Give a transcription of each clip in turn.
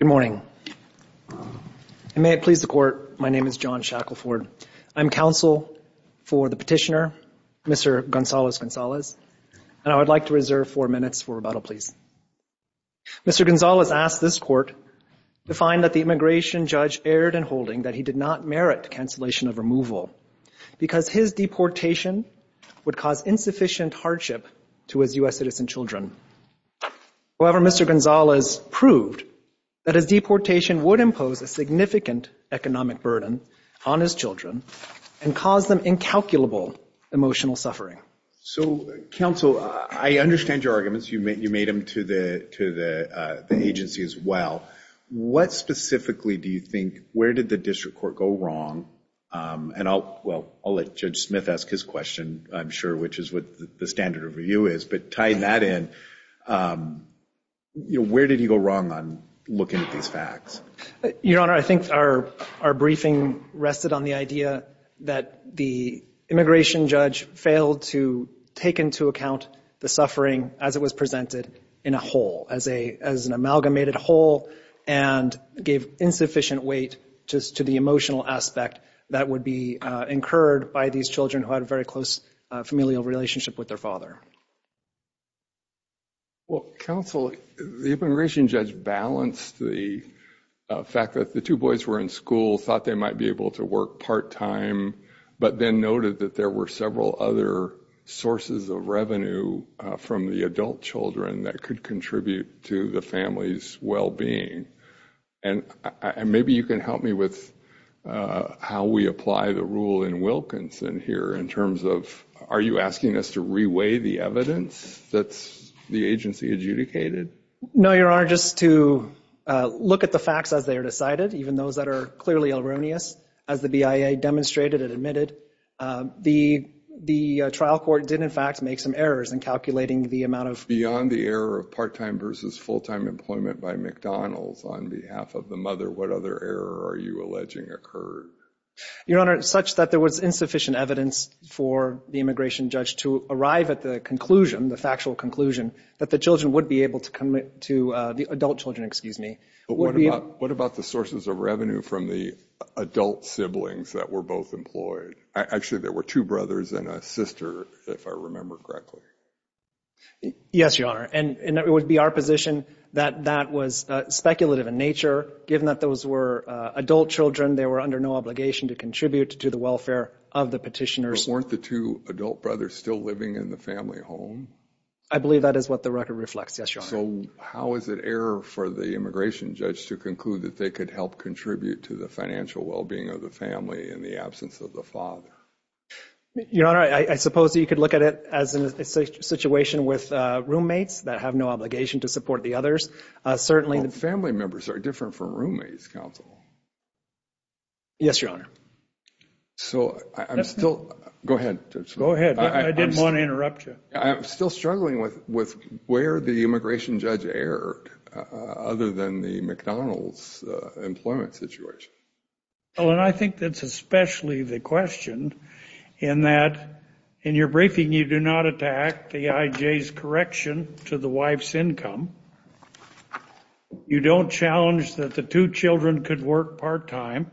Good morning. May it please the court, my name is John Shackleford. I'm counsel for the petitioner, Mr. Gonzalez-Gonzalez, and I would like to reserve four minutes for rebuttal, please. Mr. Gonzalez asked this court to find that the immigration judge erred in holding that he did not merit cancellation of removal because his deportation would cause insufficient hardship to his U.S. citizen children. However, Mr. Gonzalez proved that his deportation would impose a significant economic burden on his children and cause them incalculable emotional suffering. So, counsel, I understand your arguments. You made you made them to the to the agency as well. What specifically do you think, where did the district court go wrong? And I'll, well, I'll let Judge Smith ask his question, I'm sure, which is what the standard of review is, but tying that in, you know, where did he go wrong on looking at these facts? Your Honor, I think our our briefing rested on the idea that the immigration judge failed to take into account the suffering as it was presented in a whole, as a as an amalgamated whole, and gave insufficient weight just to the emotional aspect that would be incurred by these children who had a very close familial relationship with their father. Well, counsel, the immigration judge balanced the fact that the two boys were in school, thought they might be able to work part-time, but then noted that there were several other sources of revenue from the adult children that could contribute to the family's well-being. And maybe you can help me with how we apply the rule in Wilkinson here, in terms of, are you asking us to reweigh the evidence that's the agency adjudicated? No, Your Honor, just to look at the facts as they are decided, even those that are clearly erroneous, as the BIA demonstrated and admitted, the the trial court did in fact make some errors in calculating the amount of... Beyond the error of part-time versus full-time employment by McDonald's on behalf of the mother, what other error are you alleging occurred? Your Honor, such that there was insufficient evidence for the immigration judge to arrive at the conclusion, the factual conclusion, that the children would be able to commit to, the adult children, excuse me. What about the sources of revenue from the adult siblings that were both employed? Actually, there were two brothers and a sister, if I remember correctly. Yes, Your Honor, and it would be our position that that was speculative in nature, given that those were adult children, they were under no obligation to contribute to the welfare of the petitioners. Weren't the two adult brothers still living in the family home? I believe that is what the record reflects, yes, Your Honor. So how is it error for the immigration judge to conclude that they could help contribute to the financial well-being of the family in the absence of the father? Your Honor, I suppose you could look at it as a situation with roommates that have no obligation to support the others. Certainly, the family members are different from roommates, counsel. Yes, Your Honor. So I'm still, go ahead. Go ahead. I didn't want to interrupt you. I'm still struggling with where the immigration judge erred, other than the McDonald's employment situation. Well, and I think that's especially the question, in that, in your briefing, you do not attack the IJ's correction to the wife's income. You don't challenge that the two children could work part-time,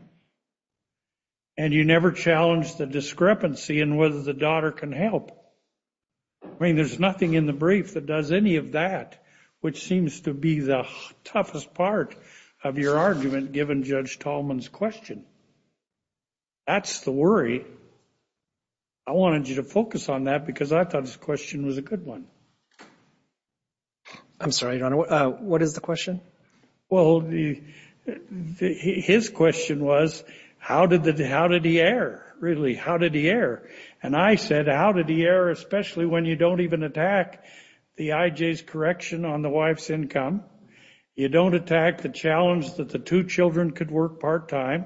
and you never challenged the discrepancy in whether the daughter can help. I mean, there's nothing in the brief that does any of that, which seems to be the toughest part of your argument, given Judge Tallman's question. That's the worry. I wanted you to focus on that, because I thought his question was a good one. I'm sorry, Your Honor. What is the question? Well, his question was, how did he err? Really, how did he err? And I said, how did he err, especially when you don't even attack the IJ's correction on the wife's income. You don't attack the challenge that the two children could work part-time.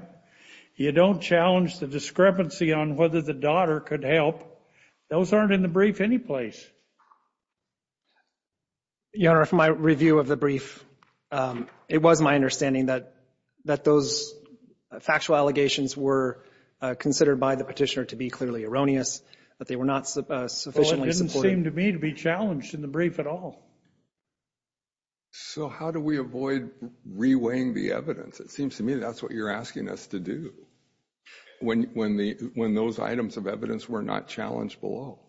You don't challenge the discrepancy on whether the daughter could help. Those aren't in the brief anyplace. Your Honor, from my review of the brief, it was my understanding that those factual allegations were considered by the petitioner to be clearly erroneous, that they were not sufficiently supported. Well, it didn't seem to me to be challenged in the brief at all. So how do we avoid reweighing the evidence? It seems to me that's what you're asking us to do, when those items of evidence were not challenged below.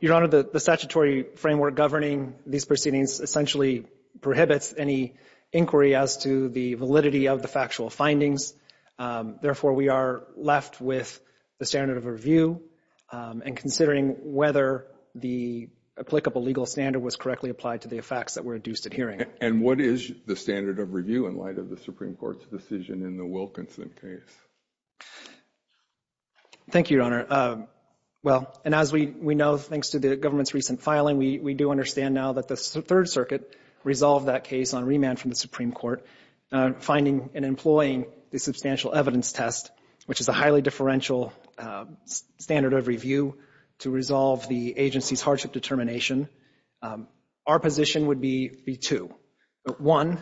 Your Honor, the statutory framework governing these proceedings essentially prohibits any inquiry as to the validity of the factual findings. Therefore, we are left with the standard of review and considering whether the applicable legal standard was correctly applied to the facts that were induced at hearing. And what is the standard of review in light of the Supreme Court's decision in the Wilkinson case? Thank you, Your Honor. Well, and as we know, thanks to the government's recent filing, we do understand now that the Third Circuit resolved that case on remand from the Supreme Court, finding and employing the substantial evidence test, which is a highly differential standard of review to resolve the agency's hardship determination. Our position would be two. One...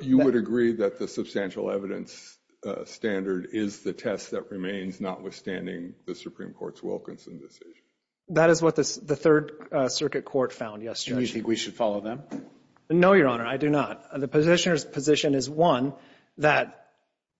You would agree that the substantial evidence standard is the test that remains, notwithstanding the Supreme Court's Wilkinson decision? That is what the Third Circuit Court found, yes, Judge. Do you think we should follow them? No, Your Honor, I do not. The positioner's position is, one, that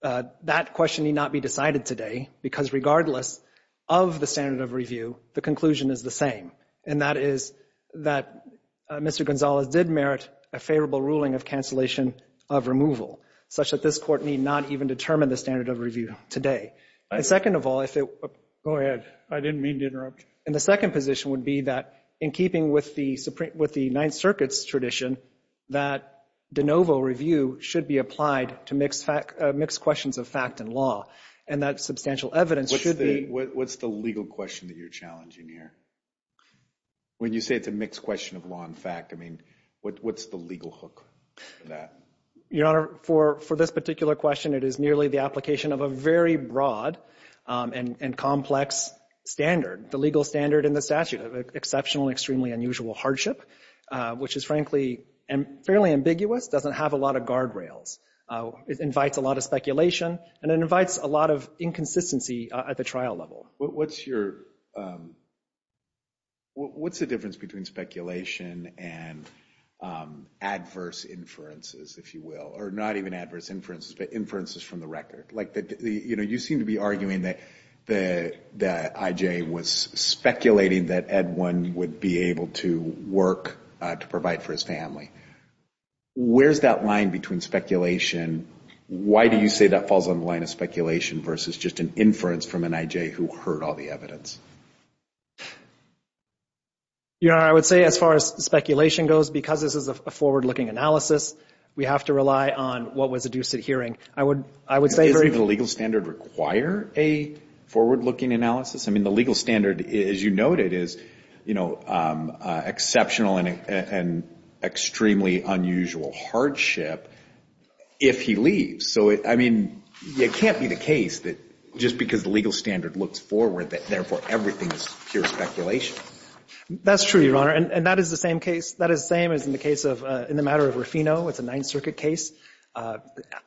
that question need not be decided today, because regardless of the standard of review, the conclusion is the same, and that is that Mr. Gonzalez did merit a favorable ruling of cancellation of removal, such that this Court need not even determine the standard of review today. And second of all, if it... Go ahead. I didn't mean to interrupt. And the second position would be that, in keeping with the Supreme... with the Ninth Circuit's tradition, that de novo review should be applied to mixed fact... mixed questions of fact and law, and that substantial evidence should be... What's the legal question that you're challenging here? When you say it's a mixed question of law and fact, I mean, what's the legal hook for that? Your Honor, for this particular question, it is nearly the application of a very broad and complex standard, the legal standard in the statute of exceptional, extremely unusual hardship, which is frankly fairly ambiguous, doesn't have a lot of guardrails. It invites a lot of speculation, and it invites a lot of inconsistency at the trial level. What's your... What's the difference between speculation and adverse inferences, if you will, or not even adverse inferences, but inferences from the record? Like, you know, you seem to be arguing that I.J. was speculating that Edwin would be able to work to provide for his family. Where's that line between speculation? Why do you say that falls on the line of speculation versus just an inference from an I.J. who heard all the evidence? Your Honor, I would say as far as speculation goes, because this is a forward-looking analysis, we have to rely on what was adduced at hearing. I would... I would say... Does the legal standard require a forward-looking analysis? I mean, the legal standard, as you noted, is, you know, exceptional and extremely unusual hardship if he leaves. So, I mean, it can't be the case that just because the legal standard looks forward that, therefore, everything is pure speculation. That's true, Your Honor, and that is the same case. That is the same as in the case of, in the matter of Rufino, it's a Ninth Circuit case,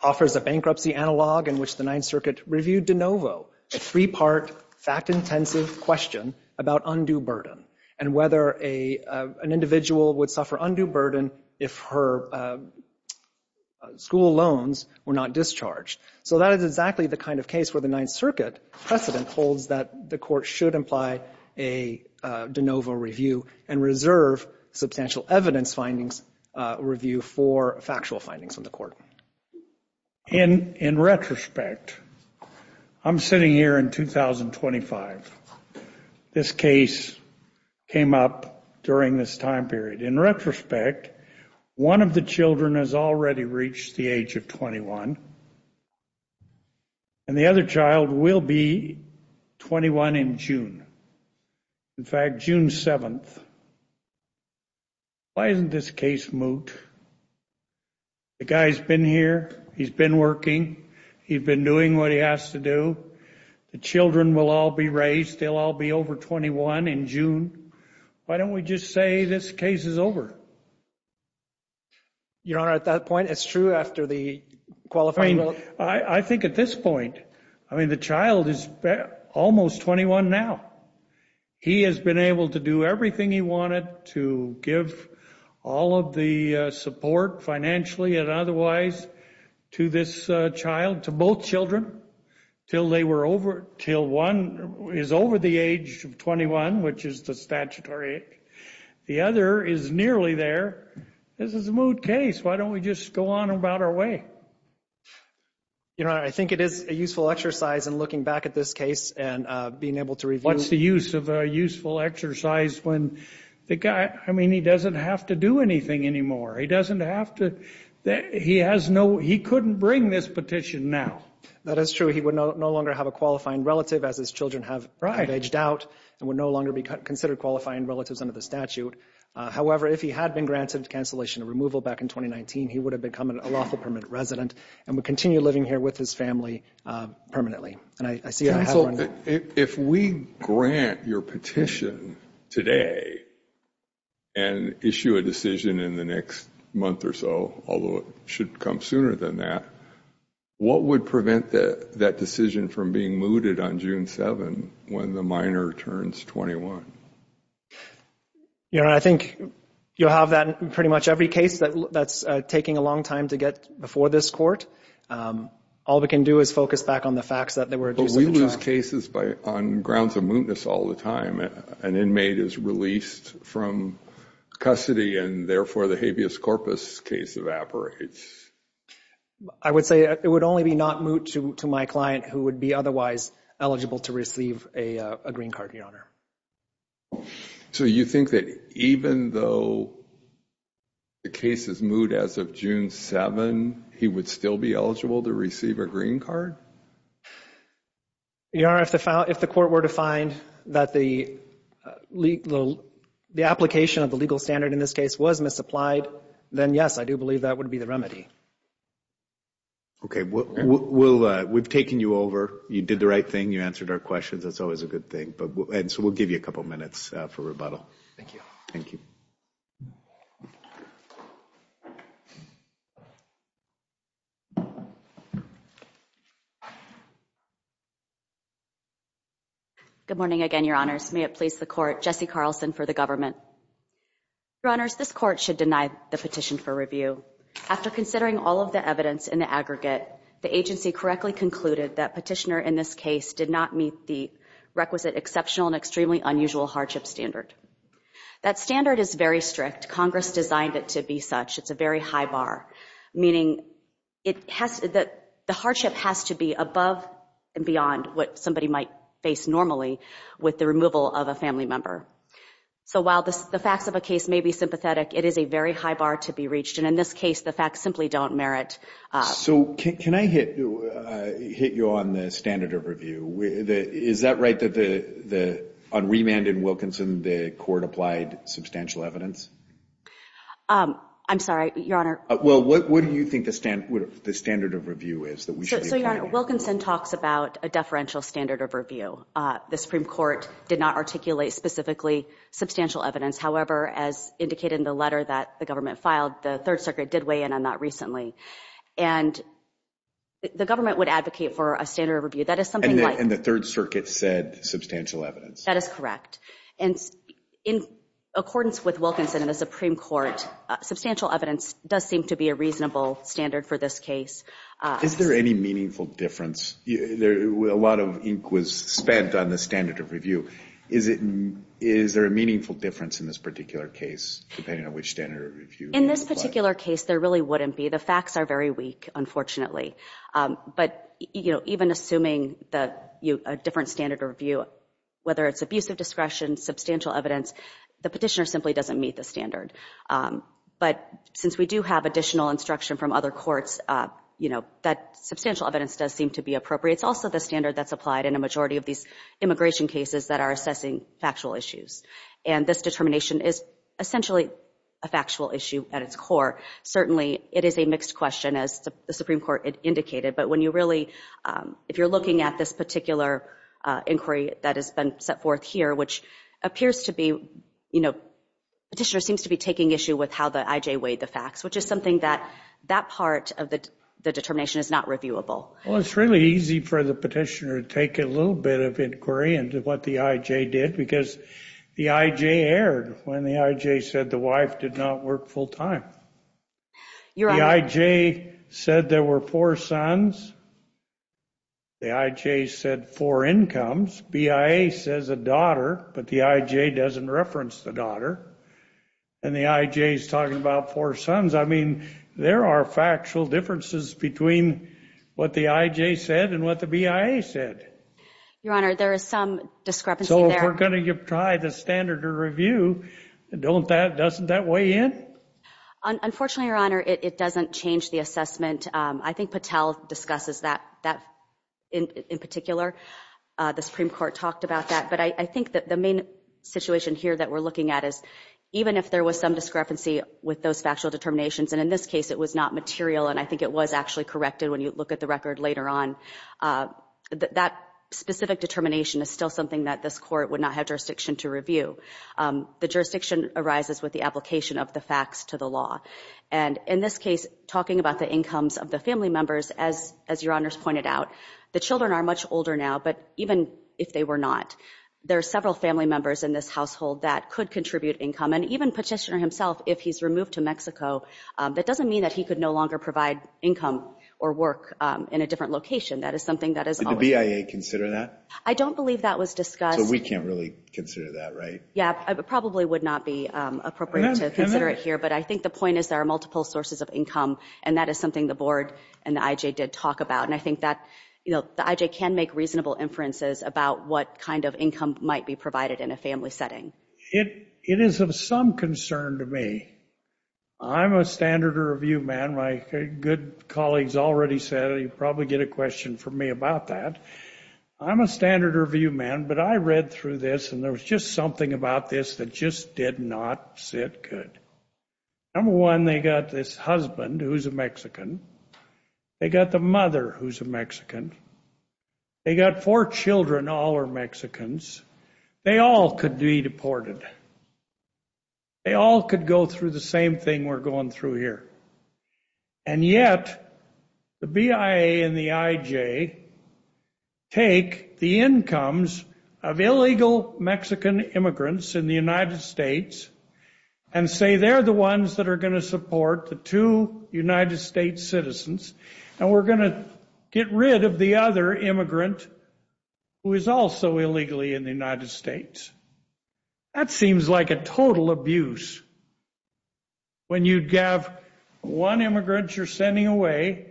offers a bankruptcy analog in which the Ninth Circuit reviewed de novo, a three-part, fact-intensive question about undue burden and whether an individual would suffer undue burden if her school loans were not discharged. So that is exactly the kind of case where the Ninth Circuit precedent holds that the court should imply a de novo review and reserve substantial evidence findings review for factual findings in the court. In retrospect, I'm sitting here in 2025. This case came up during this time period. In retrospect, one of the children has already reached the age of 21, and the other child will be 21 in June. In fact, June 7th. Why isn't this case moot? The guy's been here. He's been working. He's been doing what he has to do. The children will all be raised. They'll all be over 21 in June. Why don't we just say this case is over? Your Honor, at that point, it's true after the qualifying vote. I think at this point, I mean, the child is almost 21 now. He has been able to do everything he wanted to give all of the support, financially and otherwise, to this child, to both children, till they were over, till one is over the age of 21, which is the statutory age. The other is nearly there. This is a moot case. Why don't we just go on about our way? Your Honor, I think it is a useful exercise in looking back at this case and being able to review. What's the use of a useful exercise when the guy, I mean, he doesn't have to do anything anymore. He doesn't have to, he has no, he couldn't bring this petition now. That is true. He would no longer have a qualifying relative as his children have aged out and would no longer be considered qualifying relatives under the statute. However, if he had been granted cancellation or removal back in 2019, he would have become an unlawful permanent resident and would continue living here with his family permanently. And I see that. If we grant your petition today and issue a decision in the next month or so, although it should come sooner than that, what would prevent that decision from being mooted on June 7 when the minor turns 21? Your Honor, I think you'll have that in pretty much every case that's taking a long time to get before this court. All we can do is focus back on the facts that they were... But we lose cases on grounds of mootness all the time. An inmate is released from custody and therefore the habeas corpus case evaporates. I would say it would only be not moot to my client who would be otherwise eligible to receive a green card, Your Honor. So you think that even though the case is moot as of June 7, he would still be eligible to receive a green card? Your Honor, if the court were to find that the application of the legal standard in this case was misapplied, then yes, I do you over. You did the right thing. You answered our questions. That's always a good thing. And so we'll give you a couple minutes for rebuttal. Thank you. Good morning again, Your Honors. May it please the Court. Jessie Carlson for the government. Your Honors, this court should deny the petition for review. After considering all of the evidence in the aggregate, the agency correctly concluded that petitioner in this case did not meet the requisite exceptional and extremely unusual hardship standard. That standard is very strict. Congress designed it to be such. It's a very high bar, meaning that the hardship has to be above and beyond what somebody might face normally with the removal of a family member. So while the facts of a case may be sympathetic, it is a very high bar to be reached. And in this case, the facts simply don't merit. So can I hit you on the standard of review? Is that right that on remand in Wilkinson, the court applied substantial evidence? I'm sorry, Your Honor. Well, what do you think the standard of review is? So Your Honor, Wilkinson talks about a deferential standard of review. The Supreme Court did not articulate specifically substantial evidence. However, as indicated in the letter that the government filed, the Third Circuit did weigh in on that recently. And the government would advocate for a standard of review. That is something like... And the Third Circuit said substantial evidence. That is correct. And in accordance with Wilkinson and the Supreme Court, substantial evidence does seem to be a reasonable standard for this case. Is there any meaningful difference? A lot of ink was spent on the standard of review. Is there a meaningful difference in this particular case, depending on which standard of review? In this particular case, there really wouldn't be. The facts are very weak, unfortunately. But, you know, even assuming a different standard of review, whether it's abusive discretion, substantial evidence, the petitioner simply doesn't meet the standard. But since we do have additional instruction from other courts, you know, that substantial evidence does seem to be appropriate. It's also the standard that's applied in a majority of these immigration cases that are assessing factual issues. And this determination is essentially a factual issue at its core. Certainly, it is a mixed question, as the Supreme Court indicated. But when you really, if you're looking at this particular inquiry that has been set forth here, which appears to be, you know, petitioner seems to be taking issue with how the IJ weighed the facts, which is something that that part of the determination is not reviewable. Well, it's really easy for the petitioner to take a little bit of inquiry into what the IJ did, because the IJ erred when the IJ said the wife did not work full-time. The IJ said there were four sons. The IJ said four incomes. BIA says a daughter, but the IJ doesn't reference the daughter. And the IJ is talking about four sons. I mean, there are factual differences between what the IJ said and what the BIA said. Your Honor, there is some discrepancy there. So, if we're going to try the standard review, doesn't that weigh in? Unfortunately, Your Honor, it doesn't change the assessment. I think Patel discusses that in particular. The Supreme Court talked about that. But I think that the main situation here that we're looking at is, even if there was some discrepancy with those factual determinations, and in this case it was not material, and I think it was actually corrected when you look at the record later on, that specific determination is still something that this Court would not have jurisdiction to review. The jurisdiction arises with the application of the facts to the law. And in this case, talking about the incomes of the family members, as Your Honors pointed out, the children are much older now, but even if they were not, there are several family members in this household that could contribute income. And even Petitioner himself, if he's removed to Mexico, that doesn't mean that he could no longer provide income or work in a different location. That is something that is always... Did the BIA consider that? I don't believe that was discussed. So we can't really consider that, right? Yeah, it probably would not be appropriate to consider it here, but I think the point is there are multiple sources of income, and that is something the Board and the IJ did talk about. And I think that, you know, the IJ can make reasonable inferences about what kind of income might be provided in a family setting. It is of some concern to me. I'm a standard review man. My good colleagues already said you probably get a question from me about that. I'm a standard review man, but I read through this and there was just something about this that just did not sit good. Number one, they got this husband who's a Mexican. They got the mother who's a Mexican. They got four children all are Mexicans. They all could be deported. They all could go through the same thing we're going through here. And yet the BIA and the IJ take the incomes of illegal Mexican immigrants in the United States and say they're the ones that are going to support the two United States citizens, and we're going to get rid of the other immigrant who is also illegally in the United States. That when you have one immigrant you're sending away,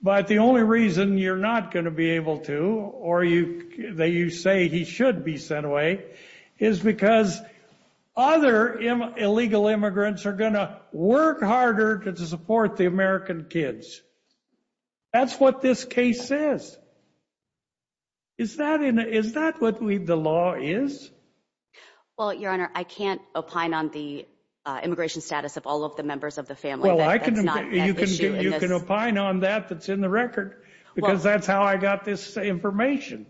but the only reason you're not going to be able to or you say he should be sent away is because other illegal immigrants are going to work harder to support the American kids. That's what this case says. Is that what the law is? Well, Your Honor, I can't opine on the immigration status of all of the members of the family. You can opine on that that's in the record because that's how I got this information.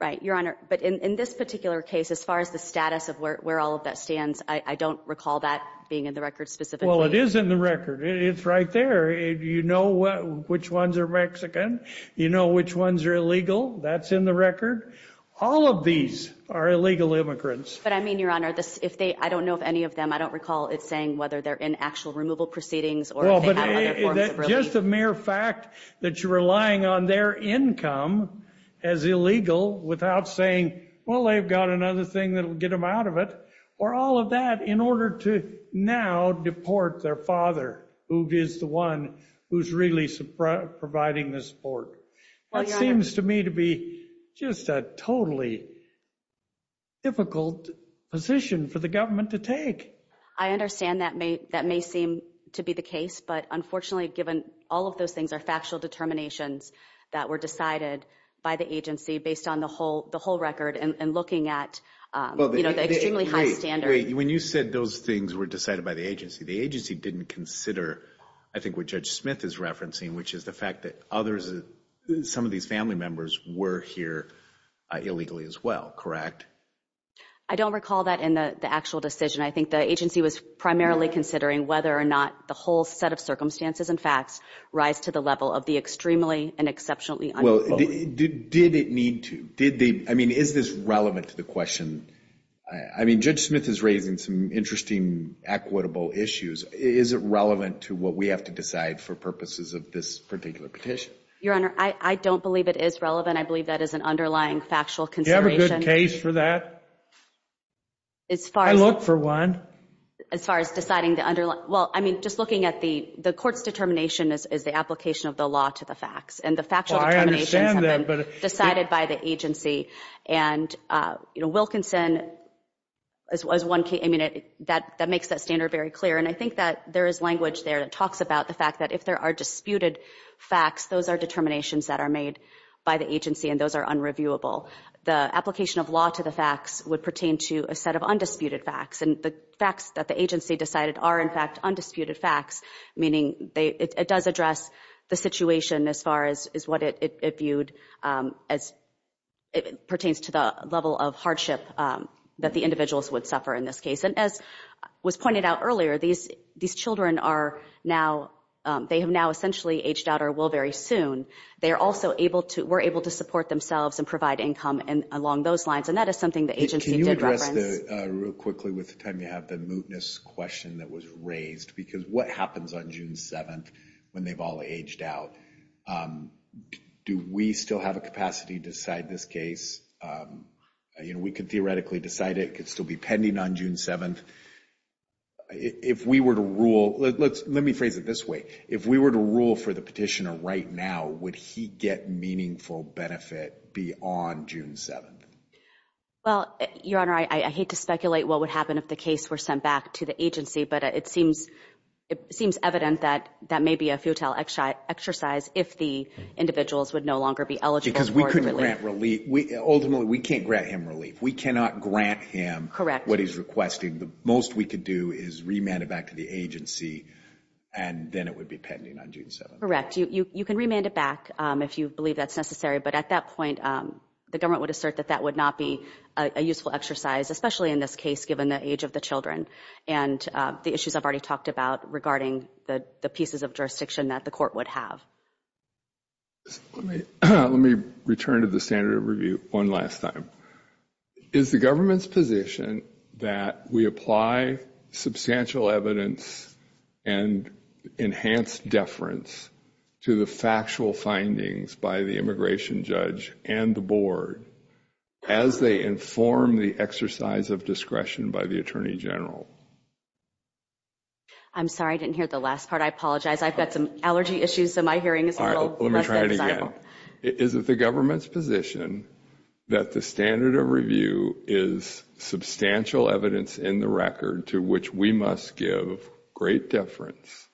Right, Your Honor. But in this particular case, as far as the status of where all of that stands, I don't recall that being in the record specifically. Well, it is in the record. It's right there. You know which ones are Mexican. You know which ones are illegal. That's in the record. All of these are illegal immigrants. But I mean, Your Honor, if they, I don't know if any of them, I don't recall it saying whether they're in actual removal proceedings or just a mere fact that you're relying on their income as illegal without saying, well, they've got another thing that will get them out of it or all of that in order to now deport their father who is the one who's really providing the support. That seems to me to be just a totally difficult position for the government to take. I understand that may that may seem to be the case. But unfortunately, given all of those things are factual determinations that were decided by the agency based on the whole the whole record and looking at, you know, the extremely high standard. When you said those things were decided by the agency, the agency didn't consider, I think what Judge Smith is referencing, which is the fact that others, some of these family members were here illegally as well, correct? I don't recall that in the actual decision. I think the agency was primarily considering whether or not the whole set of circumstances and facts rise to the level of the extremely and exceptionally. Well, did it need to? Did they, I mean, is this relevant to the question? I mean, Judge Smith is raising some interesting equitable issues. Is it relevant to what we have to decide for purposes of this particular petition? Your Honor, I don't believe it is relevant. I believe that is an underlying factual consideration. Do you have a good case for that? I look for one. As far as deciding the underlying, well, I mean, just looking at the the court's determination is the application of the law to the facts. And the factual determinations have been decided by the agency. And, you know, Wilkinson, as one case, I mean, that that makes that very clear. And I think that there is language there that talks about the fact that if there are disputed facts, those are determinations that are made by the agency and those are unreviewable. The application of law to the facts would pertain to a set of undisputed facts. And the facts that the agency decided are, in fact, undisputed facts, meaning it does address the situation as far as what it viewed as it pertains to the level of hardship that the individuals would suffer in this case. And as was pointed out earlier, these these children are now, they have now essentially aged out or will very soon. They are also able to, were able to support themselves and provide income and along those lines. And that is something the agency did reference. Can you address that real quickly with the time you have the mootness question that was raised? Because what happens on June 7th when they've all aged out? Do we still have a capacity to decide this case? You know, we could theoretically decide it could still be pending on June 7th. If we were to rule, let me phrase it this way, if we were to rule for the petitioner right now, would he get meaningful benefit beyond June 7th? Well, Your Honor, I hate to speculate what would happen if the case were sent back to the agency, but it seems evident that that may be a futile exercise if the individuals would no longer be eligible. Because we couldn't grant relief. Ultimately, we can't grant him relief. We cannot grant him what he's requesting. The most we could do is remand it back to the agency and then it would be pending on June 7th. Correct. You can remand it back if you believe that's necessary, but at that point the government would assert that that would not be a useful exercise, especially in this case given the age of the children and the issues I've already talked about regarding the pieces of jurisdiction that the court would have. Let me return to the standard of review one last time. Is the government's position that we apply substantial evidence and enhanced deference to the factual findings by the immigration judge and the board as they inform the exercise of discretion by the Attorney General? I'm sorry, I didn't hear the last part. I apologize. I've got some allergy issues, so my hearing is a little less than desirable. Let me try it again. Is it the government's position that the standard of review is substantial evidence in the record to which we must give great deference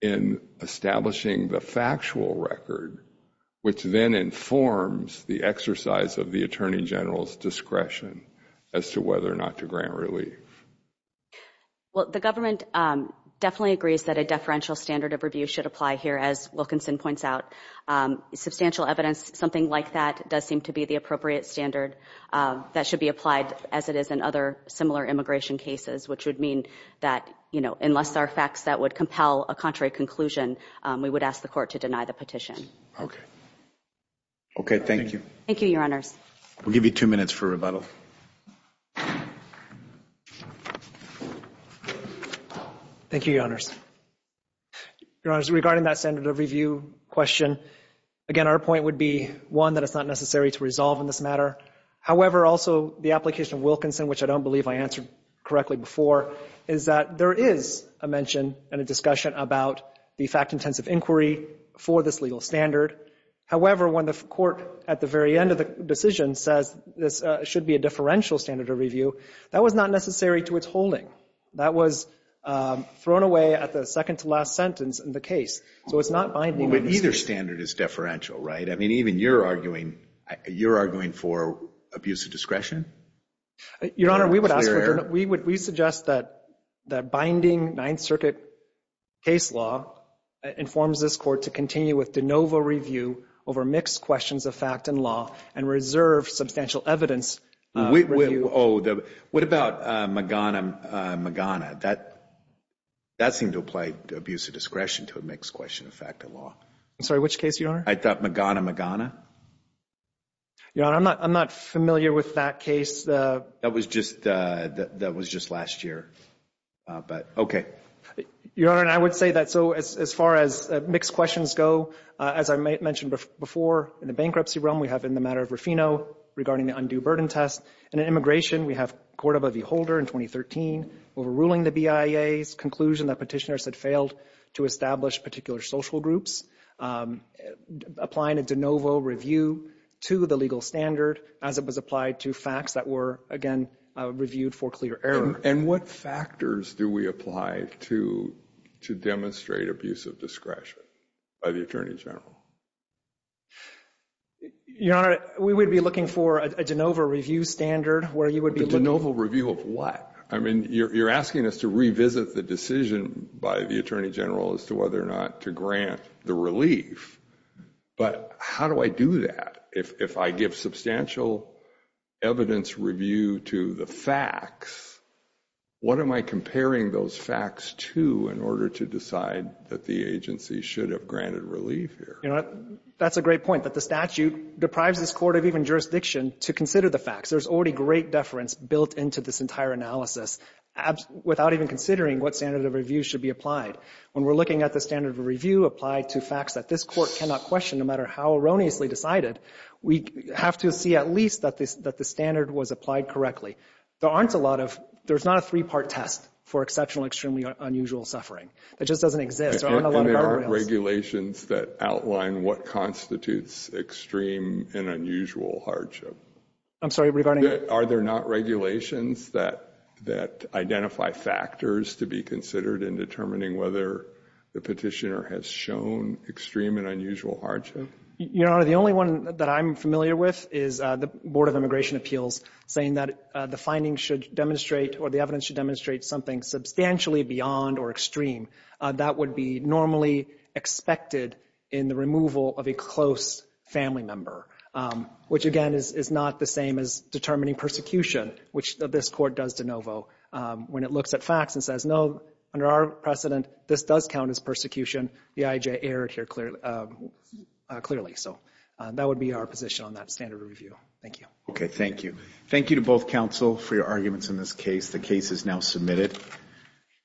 in establishing the factual record, which then informs the exercise of the Attorney General's discretion as to whether or not to grant relief? Well, the government definitely agrees that a deferential standard of review should apply here, as Wilkinson points out. Substantial evidence, something like that, does seem to be the appropriate standard that should be applied as it is in other similar immigration cases, which would mean that, you know, unless there are facts that would compel a contrary conclusion, we would ask the court to deny the petition. Okay. Okay, thank you. Thank you, Your Honors. We'll give you two minutes for rebuttal. Thank you, Your Honors. Your Honors, regarding that standard of review question, again, our point would be, one, that it's not necessary to resolve in this matter. However, also the application of Wilkinson, which I don't believe I answered correctly before, is that there is a mention and a discussion about the fact-intensive inquiry for this legal standard. However, when the court at the very end of the decision says this should be a differential standard of review, that was not necessary to its holding. That was thrown away at the second-to-last sentence in the case, so it's not binding. But either standard is deferential, right? I mean, even you're arguing, you're arguing for abuse of discretion? Your Honor, we would ask, we would, we suggest that that binding Ninth Circuit case law informs this court to continue with de novo review over mixed questions of fact and law and reserve substantial evidence. Oh, what about Magana Magana? That, that seemed to apply to abuse of discretion to a mixed question of fact and law. I'm sorry, which case, Your Honor? I thought Magana Magana. Your Honor, I'm not, I'm not familiar with that case. That was just, that was just last year, but okay. Your Honor, and I would say that, so as far as mixed questions go, as I mentioned before, in the bankruptcy realm, we have in the matter of Rufino regarding the undue burden test. In immigration, we have Cordova v. Holder in 2013 overruling the BIA's conclusion that petitioners had failed to establish particular social groups, applying a de novo review to the legal standard as it was applied to facts that were, again, reviewed for clear error. And what factors do we apply to, to demonstrate abuse of discretion by the Attorney General? Your Honor, we would be looking for a de novo review standard where you would be looking... A de novo review of what? I mean, you're asking us to revisit the decision by the Attorney General as to whether or not to grant the relief, but how do I do that? If I give substantial evidence review to the facts, what am I comparing those facts to in order to decide that the agency should have granted relief here? Your Honor, that's a great point, that the statute deprives this court of even jurisdiction to consider the facts. There's already great deference built into this entire analysis without even considering what standard of review should be applied. When we're looking at the standard of review applied to facts that this court cannot question, no matter how erroneously decided, we have to see at least that this, that the standard was applied correctly. There aren't a lot of, there's not a three-part test for exceptional extremely unusual suffering. That just doesn't exist. There aren't a lot of... Are there regulations that outline what constitutes extreme and unusual hardship? I'm sorry, regarding... Are there not regulations that, that identify factors to be considered in determining whether the petitioner has shown extreme and unusual hardship? Your Honor, the only one that I'm familiar with is the Board of Immigration Appeals saying that the findings should demonstrate or the evidence should demonstrate something substantially beyond or extreme that would be normally expected in the removal of a close family member, which again is not the same as determining persecution, which this court does de novo when it looks at the facts and says, no, under our precedent, this does count as persecution. The IJ erred here clearly, so that would be our position on that standard of review. Thank you. Okay, thank you. Thank you to both counsel for your arguments in this case. The case is now submitted.